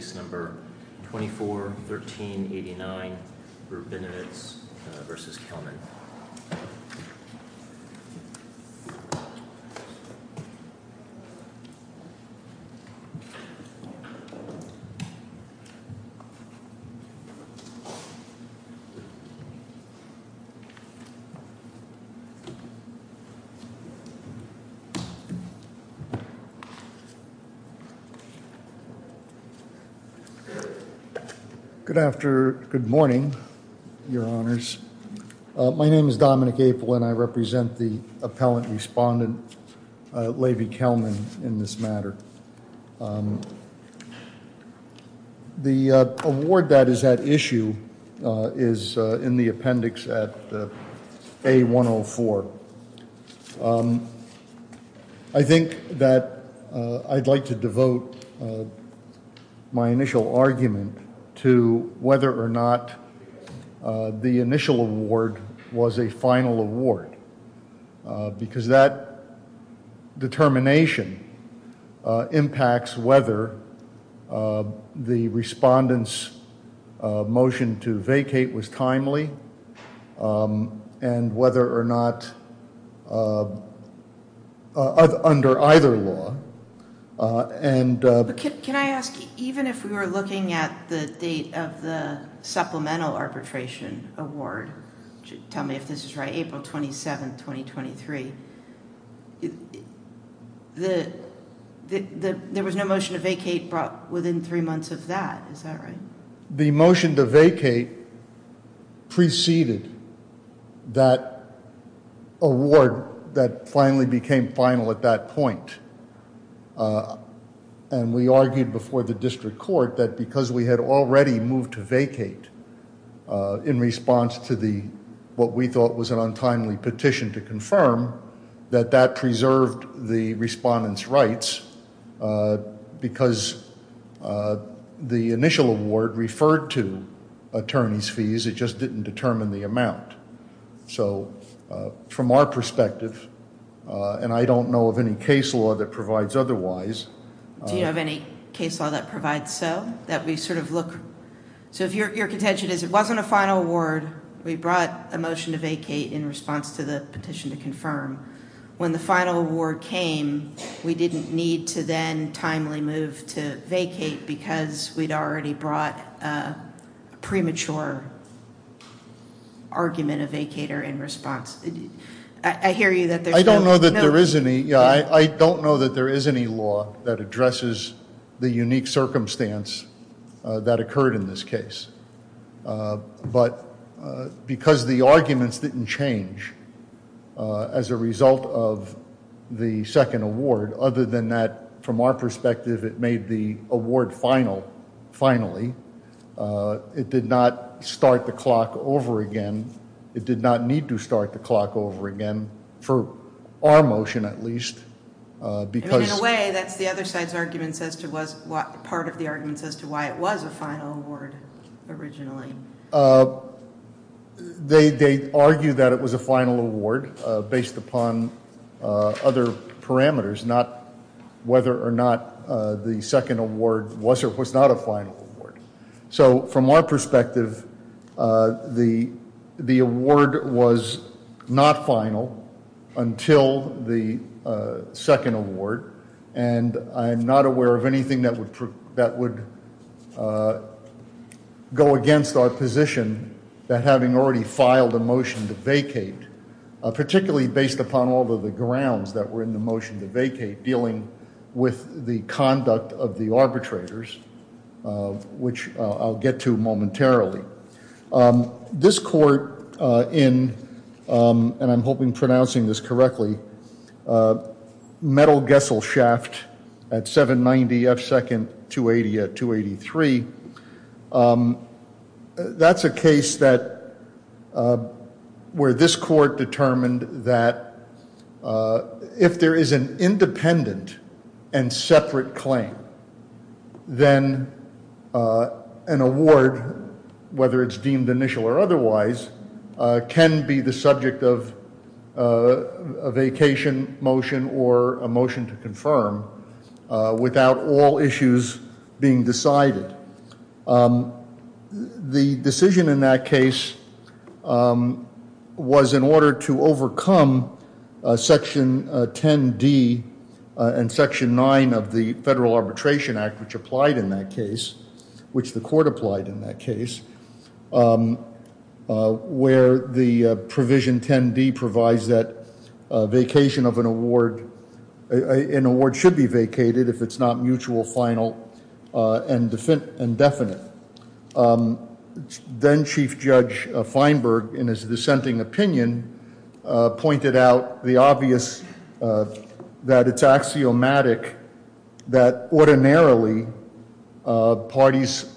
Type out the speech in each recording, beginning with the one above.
Case No. 241389, Rubinowitz v. Kelman Good morning, your honors. My name is Dominic Apel and I represent the appellant respondent, Lavey Kelman, in this matter. The award that is at issue is in the appendix at A-104. I think that I'd like to devote my initial argument to whether or not the initial award was a final award, because that determination impacts whether the respondent's motion to vacate was timely and whether or not, under either law. Can I ask, even if we were looking at the date of the supplemental arbitration award, tell me if this is right, April 27, 2023, there was no motion to vacate brought within three months of that, is that right? The motion to vacate preceded that award that finally became final at that point, and we argued before the district court that because we had already moved to vacate in response to what we thought was an untimely petition to confirm, that that preserved the respondent's rights, because the initial award referred to attorney's fees, it just didn't determine the amount. So, from our perspective, and I don't know of any case law that provides otherwise. Do you have any case law that provides so? So if your contention is it wasn't a final award, we brought a motion to vacate in response to the petition to confirm. When the final award came, we didn't need to then timely move to vacate because we'd already brought a premature argument of vacater in response. I hear you that there's no. I don't know that there is any, yeah, I don't know that there is any law that addresses the unique circumstance that occurred in this case. But because the arguments didn't change as a result of the second award, other than that, from our perspective, it made the award final, finally. It did not start the clock over again. It did not need to start the clock over again, for our motion at least. In a way, that's the other side's argument, part of the argument as to why it was a final award originally. They argue that it was a final award based upon other parameters, not whether or not the second award was or was not a final award. So from our perspective, the award was not final until the second award, and I'm not aware of anything that would go against our position that having already filed a motion to vacate, which I'll get to momentarily. This court in, and I'm hoping pronouncing this correctly, Metal Gessel Shaft at 790 F2nd 280 at 283. That's a case where this court determined that if there is an independent and separate claim, then an award, whether it's deemed initial or otherwise, can be the subject of a vacation motion or a motion to confirm without all issues being decided. The decision in that case was in order to overcome Section 10D and Section 9 of the Federal Arbitration Act, which applied in that case, which the court applied in that case, where the provision 10D provides that vacation of an award, an award should be vacated if it's not mutual, final, and definite. Then Chief Judge Feinberg, in his dissenting opinion, pointed out the obvious that it's axiomatic that ordinarily parties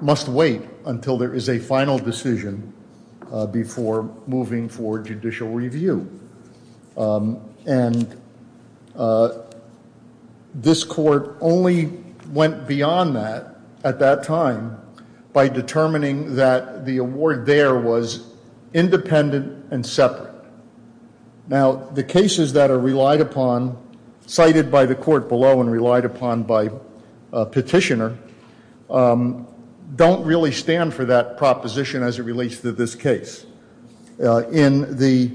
must wait until there is a final decision before moving for judicial review. And this court only went beyond that at that time by determining that the award there was independent and separate. Now, the cases that are relied upon, cited by the court below and relied upon by petitioner, don't really stand for that proposition as it relates to this case. In the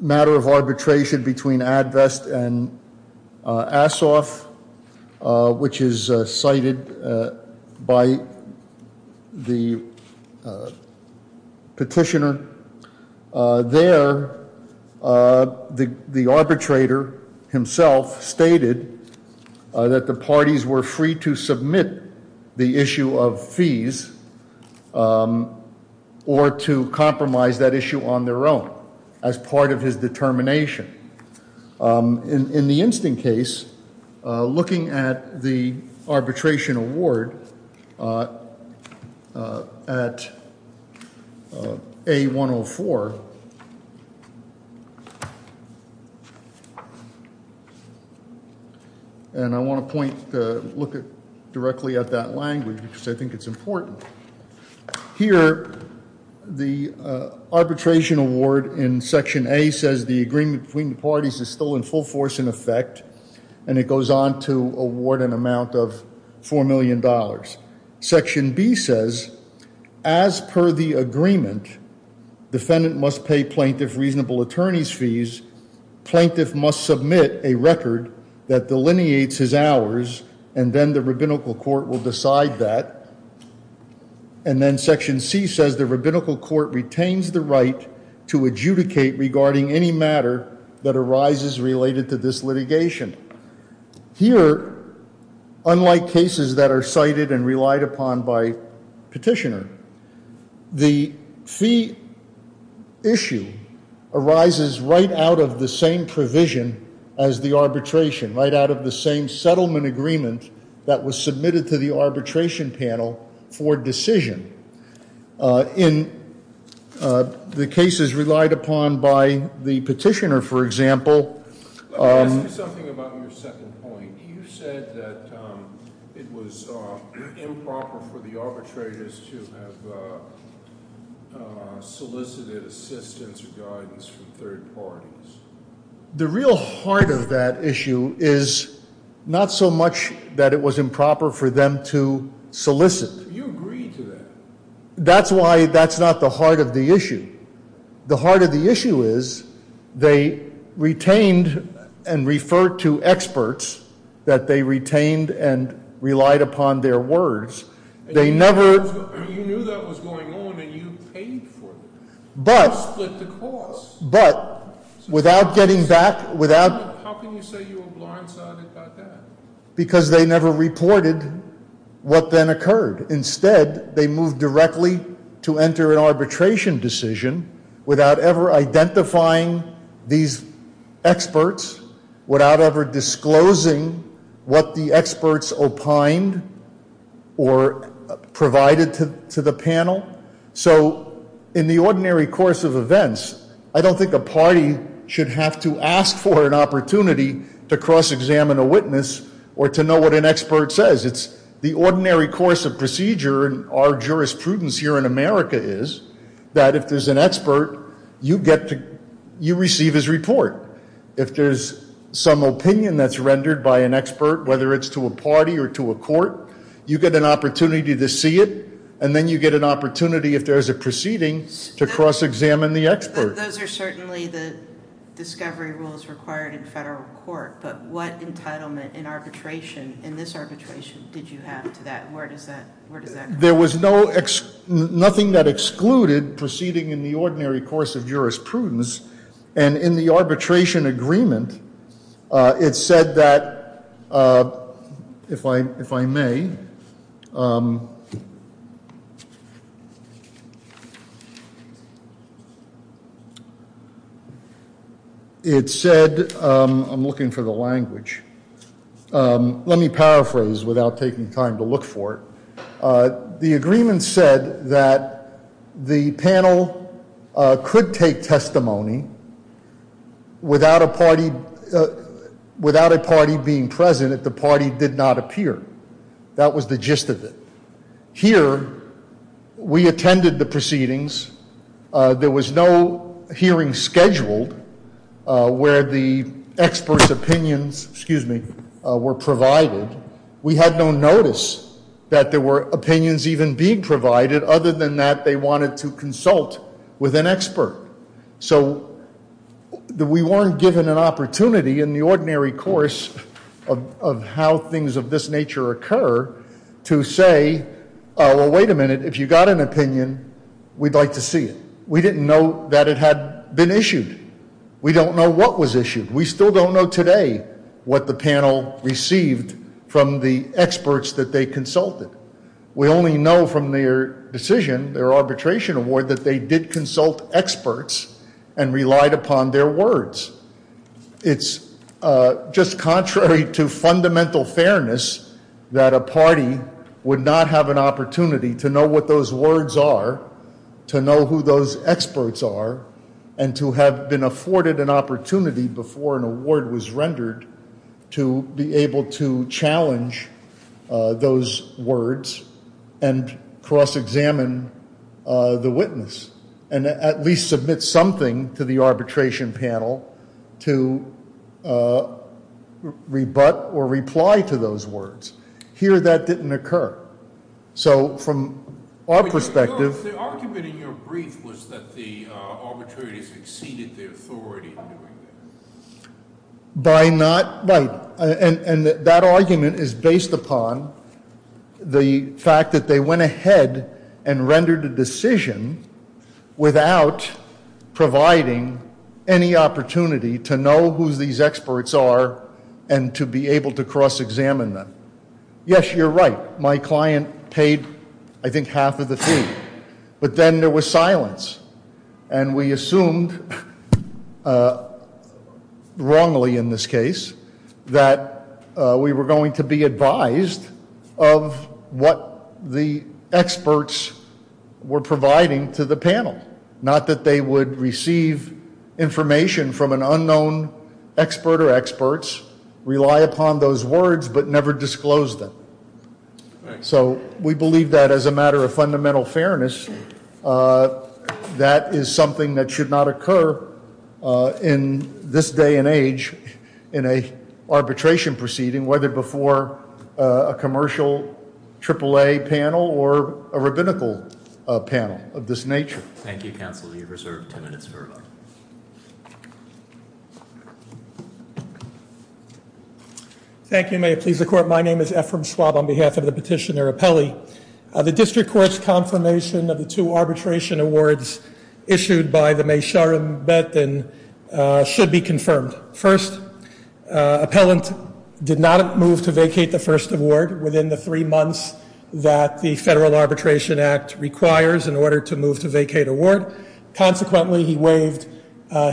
matter of arbitration between ADVEST and ASOF, which is cited by the petitioner, there the arbitrator himself stated that the parties were free to submit the issue of fees or to compromise that issue on their own as part of his determination. In the instant case, looking at the arbitration award at A104, and I want to point, look directly at that language because I think it's important. Here, the arbitration award in section A says the agreement between the parties is still in full force in effect, and it goes on to award an amount of $4 million. Section B says, as per the agreement, defendant must pay plaintiff reasonable attorney's fees, plaintiff must submit a record that delineates his hours, and then the rabbinical court will decide that. And then section C says the rabbinical court retains the right to adjudicate regarding any matter that arises related to this litigation. Here, unlike cases that are cited and relied upon by petitioner, the fee issue arises right out of the same provision as the arbitration, right out of the same settlement agreement that was submitted to the arbitration panel for decision. In the cases relied upon by the petitioner, for example. Let me ask you something about your second point. You said that it was improper for the arbitrators to have solicited assistance or guidance from third parties. The real heart of that issue is not so much that it was improper for them to solicit. You agreed to that. That's why that's not the heart of the issue. The heart of the issue is they retained and referred to experts that they retained and relied upon their words. You knew that was going on and you paid for it. You split the cost. How can you say you were blindsided by that? Because they never reported what then occurred. Instead, they moved directly to enter an arbitration decision without ever identifying these experts, without ever disclosing what the experts opined or provided to the panel. In the ordinary course of events, I don't think a party should have to ask for an opportunity to cross-examine a witness or to know what an expert says. The ordinary course of procedure in our jurisprudence here in America is that if there's an expert, you receive his report. If there's some opinion that's rendered by an expert, whether it's to a party or to a court, you get an opportunity to see it. And then you get an opportunity, if there's a proceeding, to cross-examine the expert. Those are certainly the discovery rules required in federal court. But what entitlement in arbitration, in this arbitration, did you have to that? Where does that come from? There was nothing that excluded proceeding in the ordinary course of jurisprudence. And in the arbitration agreement, it said that, if I may. It said, I'm looking for the language. Let me paraphrase without taking time to look for it. The agreement said that the panel could take testimony without a party being present if the party did not appear. That was the gist of it. Here, we attended the proceedings. There was no hearing scheduled where the experts' opinions were provided. We had no notice that there were opinions even being provided, other than that they wanted to consult with an expert. So we weren't given an opportunity in the ordinary course of how things of this nature occur to say, well, wait a minute, if you've got an opinion, we'd like to see it. We didn't know that it had been issued. We don't know what was issued. We still don't know today what the panel received from the experts that they consulted. We only know from their decision, their arbitration award, that they did consult experts and relied upon their words. It's just contrary to fundamental fairness that a party would not have an opportunity to know what those words are, to know who those experts are, and to have been afforded an opportunity before an award was rendered to be able to challenge those words and cross-examine the witness and at least submit something to the arbitration panel to rebut or reply to those words. Here, that didn't occur. So from our perspective... The argument in your brief was that the arbitrators exceeded their authority in doing that. By not... and that argument is based upon the fact that they went ahead and rendered a decision without providing any opportunity to know who these experts are and to be able to cross-examine them. Yes, you're right. My client paid, I think, half of the fee. But then there was silence, and we assumed, wrongly in this case, that we were going to be advised of what the experts were providing to the panel, not that they would receive information from an unknown expert or experts, rely upon those words, but never disclose them. So we believe that as a matter of fundamental fairness, that is something that should not occur in this day and age in an arbitration proceeding, whether before a commercial AAA panel or a rabbinical panel of this nature. Thank you, counsel. You have reserved 10 minutes for rebuttal. Thank you, may it please the Court. My name is Ephraim Schwab on behalf of the petitioner, Apelli. The District Court's confirmation of the two arbitration awards issued by the Meysharim Betin should be confirmed. First, Appellant did not move to vacate the first award within the three months that the Federal Arbitration Act requires in order to move to vacate award. Consequently, he waived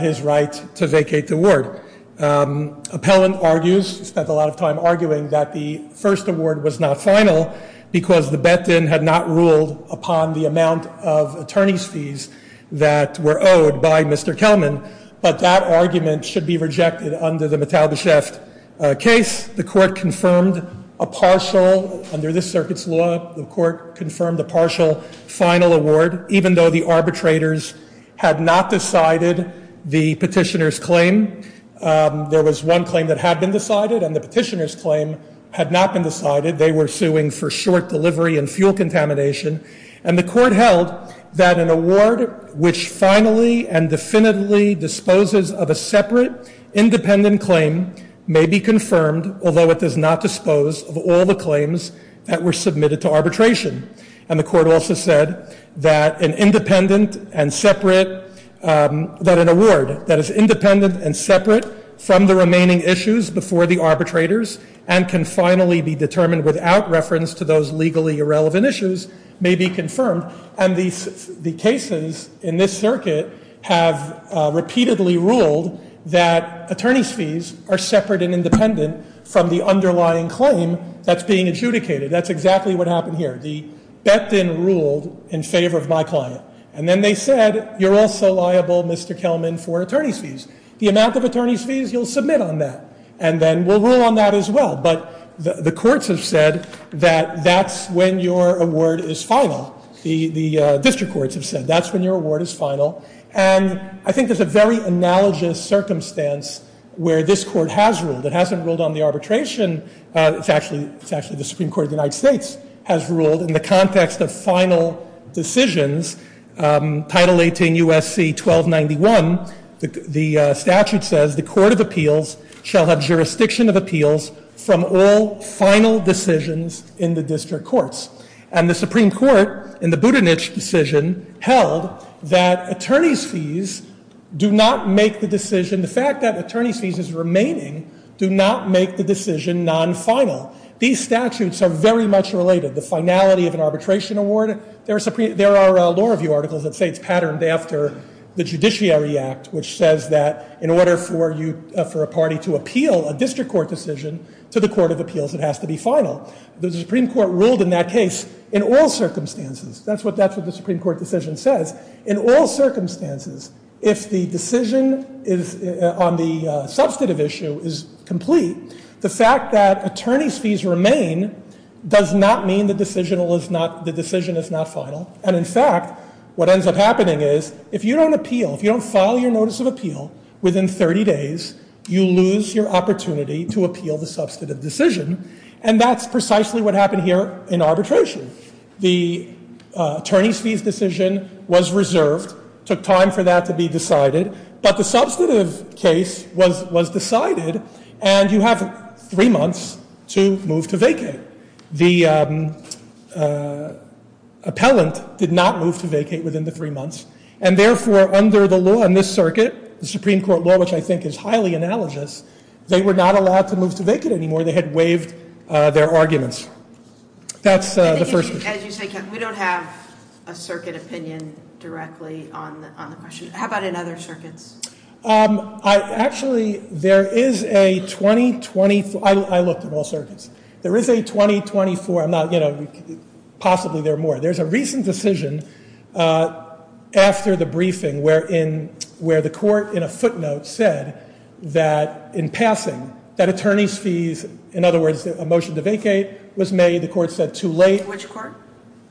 his right to vacate the award. Appellant argues, spent a lot of time arguing, that the first award was not final because the Betin had not ruled upon the amount of attorney's fees that were owed by Mr. Kelman, but that argument should be rejected under the Mitalbesheft case. The Court confirmed a partial, under this circuit's law, the Court confirmed a partial final award, even though the arbitrators had not decided the petitioner's claim. There was one claim that had been decided, and the petitioner's claim had not been decided. They were suing for short delivery and fuel contamination. And the Court held that an award which finally and definitively disposes of a separate, independent claim may be confirmed, although it does not dispose of all the claims that were submitted to arbitration. And the Court also said that an independent and separate, that an award that is independent and separate from the remaining issues before the arbitrators and can finally be determined without reference to those legally irrelevant issues may be confirmed. And the cases in this circuit have repeatedly ruled that attorney's fees are separate and independent from the underlying claim that's being adjudicated. That's exactly what happened here. The bet then ruled in favor of my client. And then they said, you're also liable, Mr. Kelman, for attorney's fees. The amount of attorney's fees, you'll submit on that, and then we'll rule on that as well. But the courts have said that that's when your award is final. The district courts have said that's when your award is final. And I think there's a very analogous circumstance where this Court has ruled. It hasn't ruled on the arbitration. It's actually the Supreme Court of the United States has ruled in the context of final decisions, Title 18 U.S.C. 1291. The statute says the Court of Appeals shall have jurisdiction of appeals from all final decisions in the district courts. And the Supreme Court in the Budenich decision held that attorney's fees do not make the decision. The fact that attorney's fees is remaining do not make the decision non-final. These statutes are very much related. The finality of an arbitration award, there are law review articles that say it's patterned after the Judiciary Act, which says that in order for a party to appeal a district court decision to the Court of Appeals, it has to be final. The Supreme Court ruled in that case in all circumstances. That's what the Supreme Court decision says. In all circumstances, if the decision is on the substantive issue is complete, the fact that attorney's fees remain does not mean the decision is not final. And in fact, what ends up happening is if you don't appeal, if you don't file your notice of appeal within 30 days, you lose your opportunity to appeal the substantive decision. And that's precisely what happened here in arbitration. The attorney's fees decision was reserved, took time for that to be decided, but the substantive case was decided, and you have three months to move to vacate. The appellant did not move to vacate within the three months, and therefore under the law in this circuit, the Supreme Court law, which I think is highly analogous, they were not allowed to move to vacate anymore. They had waived their arguments. That's the first. As you say, we don't have a circuit opinion directly on the question. How about in other circuits? Actually, there is a 2020, I looked at all circuits. There is a 2024, I'm not, you know, possibly there are more. There's a recent decision after the briefing where the court in a footnote said that in passing, that attorney's fees, in other words, a motion to vacate was made. The court said too late. Which court?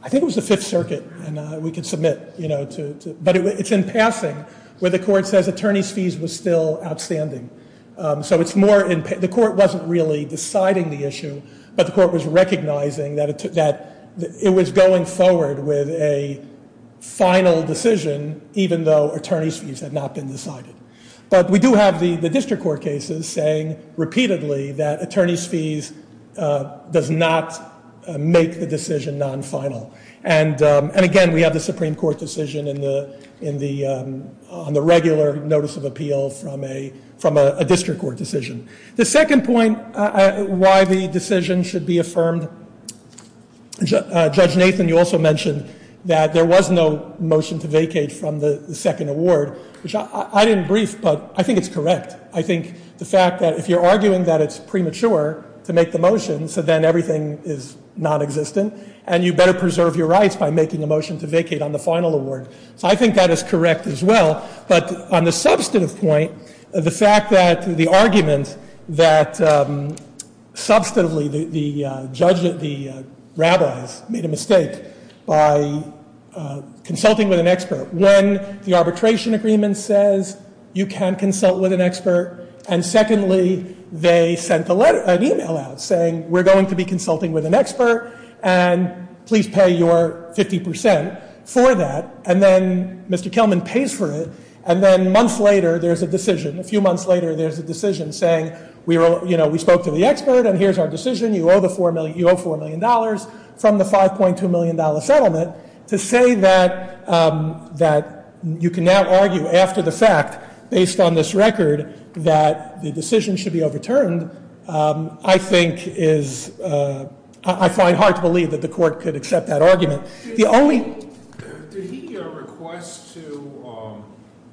I think it was the Fifth Circuit, and we could submit, you know, to, but it's in passing where the court says attorney's fees was still outstanding. So it's more, the court wasn't really deciding the issue, but the court was recognizing that it was going forward with a final decision, even though attorney's fees had not been decided. But we do have the district court cases saying repeatedly that attorney's fees does not make the decision non-final. And again, we have the Supreme Court decision on the regular notice of appeal from a district court decision. The second point why the decision should be affirmed, Judge Nathan, you also mentioned that there was no motion to vacate from the second award, which I didn't brief, but I think it's correct. I think the fact that if you're arguing that it's premature to make the motion, so then everything is non-existent, and you better preserve your rights by making a motion to vacate on the final award. So I think that is correct as well. But on the substantive point, the fact that the argument that substantively the judge, the rabbis made a mistake by consulting with an expert. When the arbitration agreement says you can consult with an expert, and secondly, they sent an email out saying we're going to be consulting with an expert, and please pay your 50% for that, and then Mr. Kelman pays for it. And then months later, there's a decision. A few months later, there's a decision saying we spoke to the expert, and here's our decision, you owe $4 million from the $5.2 million settlement to say that you can now argue after the fact, based on this record, that the decision should be overturned, I think is, I find hard to believe that the court could accept that argument. The only- Did he request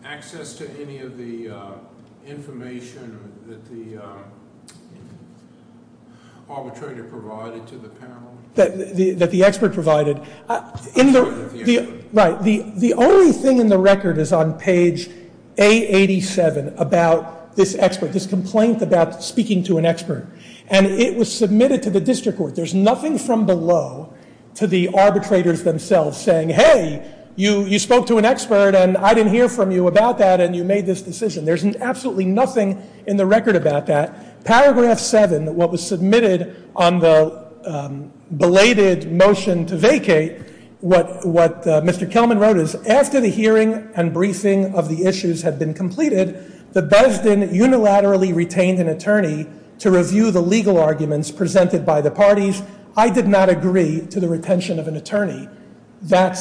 access to any of the information that the arbitrator provided to the panel? That the expert provided? Right. The only thing in the record is on page A87 about this expert, this complaint about speaking to an expert. And it was submitted to the district court. There's nothing from below to the arbitrators themselves saying, hey, you spoke to an expert, and I didn't hear from you about that, and you made this decision. There's absolutely nothing in the record about that. Paragraph 7, what was submitted on the belated motion to vacate, what Mr. Kelman wrote is, after the hearing and briefing of the issues had been completed, the Besden unilaterally retained an attorney to review the legal arguments presented by the parties. I did not agree to the retention of an attorney. That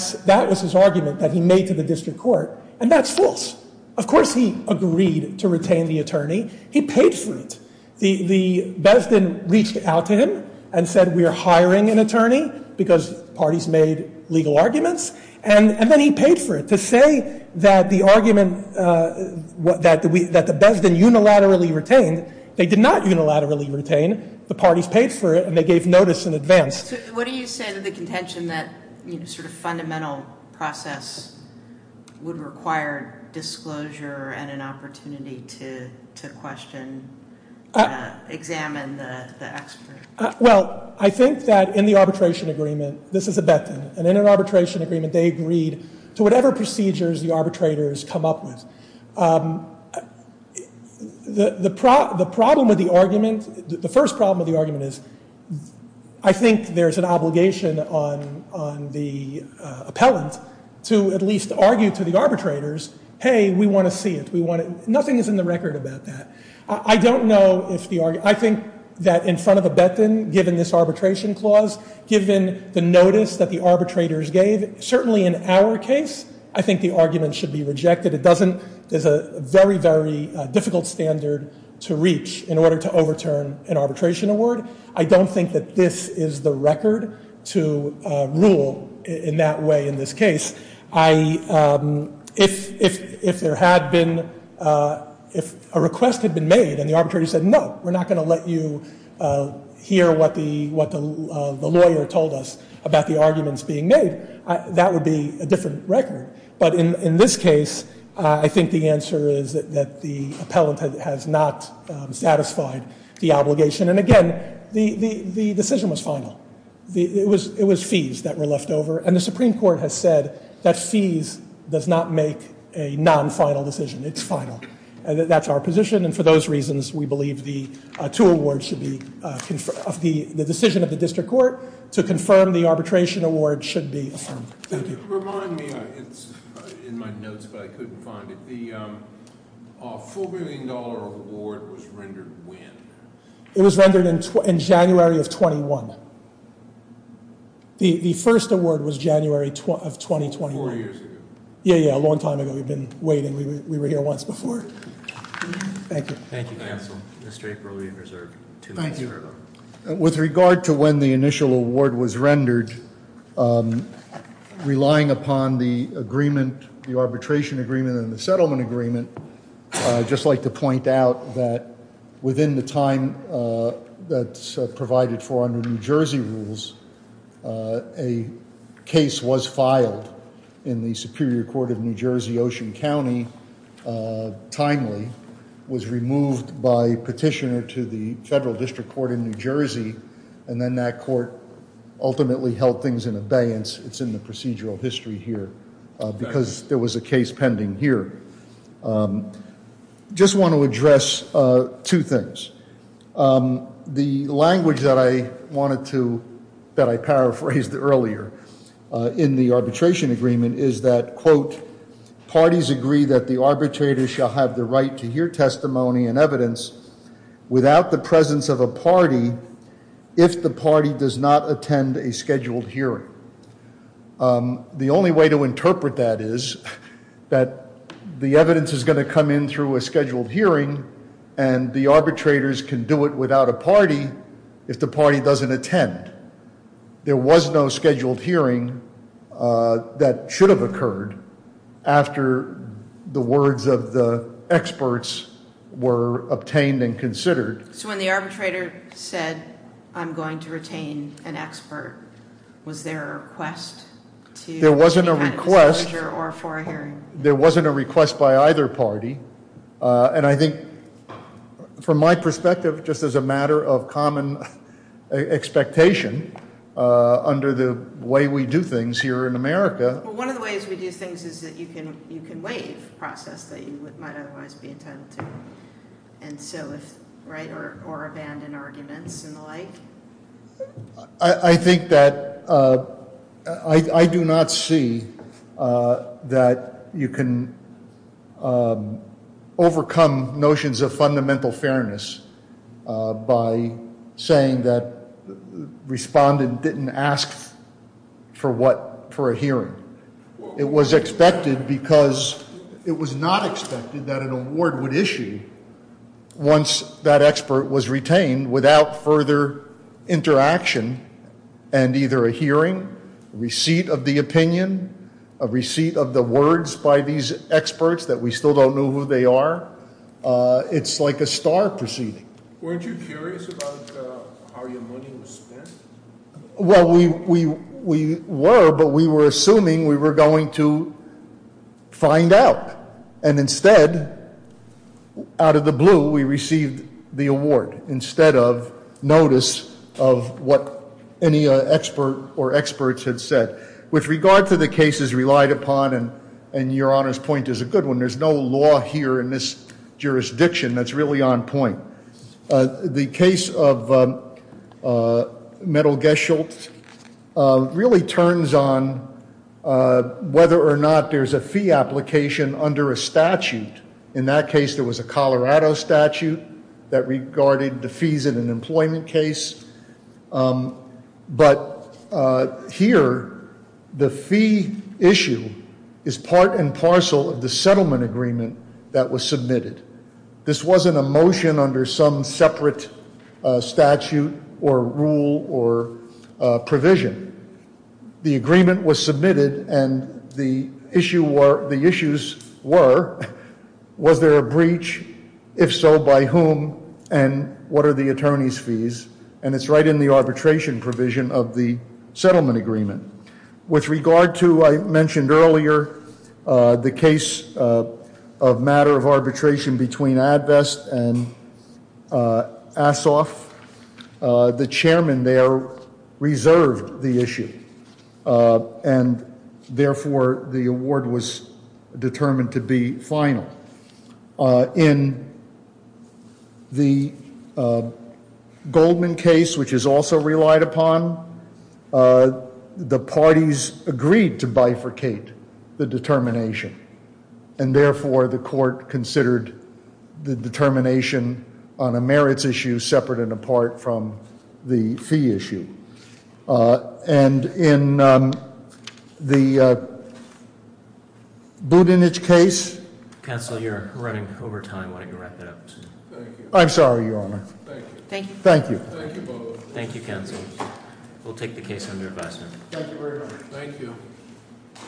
was his argument that he made to the district court, and that's false. Of course he agreed to retain the attorney. He paid for it. The Besden reached out to him and said, we're hiring an attorney because parties made legal arguments, and then he paid for it. To say that the argument that the Besden unilaterally retained, they did not unilaterally retain. The parties paid for it, and they gave notice in advance. So what do you say to the contention that, you know, sort of fundamental process would require disclosure and an opportunity to question, examine the expert? Well, I think that in the arbitration agreement, this is a Betton, and in an arbitration agreement they agreed to whatever procedures the arbitrators come up with. The problem with the argument, the first problem with the argument is, I think there's an obligation on the appellant to at least argue to the arbitrators, hey, we want to see it, we want it. Nothing is in the record about that. I don't know if the argument, I think that in front of a Betton, given this arbitration clause, given the notice that the arbitrators gave, certainly in our case, I think the argument should be rejected. It doesn't, there's a very, very difficult standard to reach in order to overturn an arbitration award. I don't think that this is the record to rule in that way in this case. If there had been, if a request had been made and the arbitrator said, no, we're not going to let you hear what the lawyer told us about the arguments being made, that would be a different record. But in this case, I think the answer is that the appellant has not satisfied the obligation. And again, the decision was final. It was fees that were left over, and the Supreme Court has said that fees does not make a non-final decision, it's final. That's our position, and for those reasons, we believe the two awards should be, the decision of the district court to confirm the arbitration award should be affirmed. Thank you. Remind me, it's in my notes, but I couldn't find it. The $4 million award was rendered when? It was rendered in January of 21. The first award was January of 2021. Four years ago. Yeah, yeah, a long time ago. We've been waiting. We were here once before. Thank you. Thank you, counsel. Mr. April, you're reserved two minutes. With regard to when the initial award was rendered, relying upon the agreement, the arbitration agreement and the settlement agreement, I'd just like to point out that within the time that's provided for under New Jersey rules, a case was filed in the Superior Court of New Jersey, Ocean County, timely, was removed by petitioner to the Federal District Court in New Jersey, and then that court ultimately held things in abeyance. It's in the procedural history here because there was a case pending here. Just want to address two things. The language that I wanted to, that I paraphrased earlier in the arbitration agreement is that, quote, parties agree that the arbitrator shall have the right to hear testimony and evidence without the presence of a party if the party does not attend a scheduled hearing. The only way to interpret that is that the evidence is going to come in through a scheduled hearing, and the arbitrators can do it without a party if the party doesn't attend. There was no scheduled hearing that should have occurred after the words of the experts were obtained and considered. So when the arbitrator said, I'm going to retain an expert, was there a request to any kind of disclosure or for a hearing? There wasn't a request by either party, and I think from my perspective, just as a matter of common expectation under the way we do things here in America. Well, one of the ways we do things is that you can waive a process that you might otherwise be entitled to, or abandon arguments and the like. I think that, I do not see that you can overcome notions of fundamental fairness by saying that the respondent didn't ask for a hearing. It was expected because it was not expected that an award would issue once that expert was retained without further interaction and either a hearing, a receipt of the opinion, a receipt of the words by these experts that we still don't know who they are. It's like a star proceeding. Weren't you curious about how your money was spent? Well, we were, but we were assuming we were going to find out. And instead, out of the blue, we received the award instead of notice of what any expert or experts had said. With regard to the cases relied upon, and your Honor's point is a good one, there's no law here in this jurisdiction that's really on point. The case of Metal Geschultz really turns on whether or not there's a fee application under a statute. In that case, there was a Colorado statute that regarded the fees in an employment case but here, the fee issue is part and parcel of the settlement agreement that was submitted. This wasn't a motion under some separate statute or rule or provision. The agreement was submitted and the issues were, was there a breach? If so, by whom? And what are the attorney's fees? And it's right in the arbitration provision of the settlement agreement. With regard to, I mentioned earlier, the case of matter of arbitration between AdBest and Assoff, the chairman there reserved the issue and therefore, the award was determined to be final. In the Goldman case, which is also relied upon, the parties agreed to bifurcate the determination and therefore, the court considered the determination on a merits issue separate and apart from the fee issue. And in the Budenich case... Counsel, you're running over time. Why don't you wrap it up? I'm sorry, Your Honor. Thank you, Counsel. We'll take the case under advisement. Thank you very much.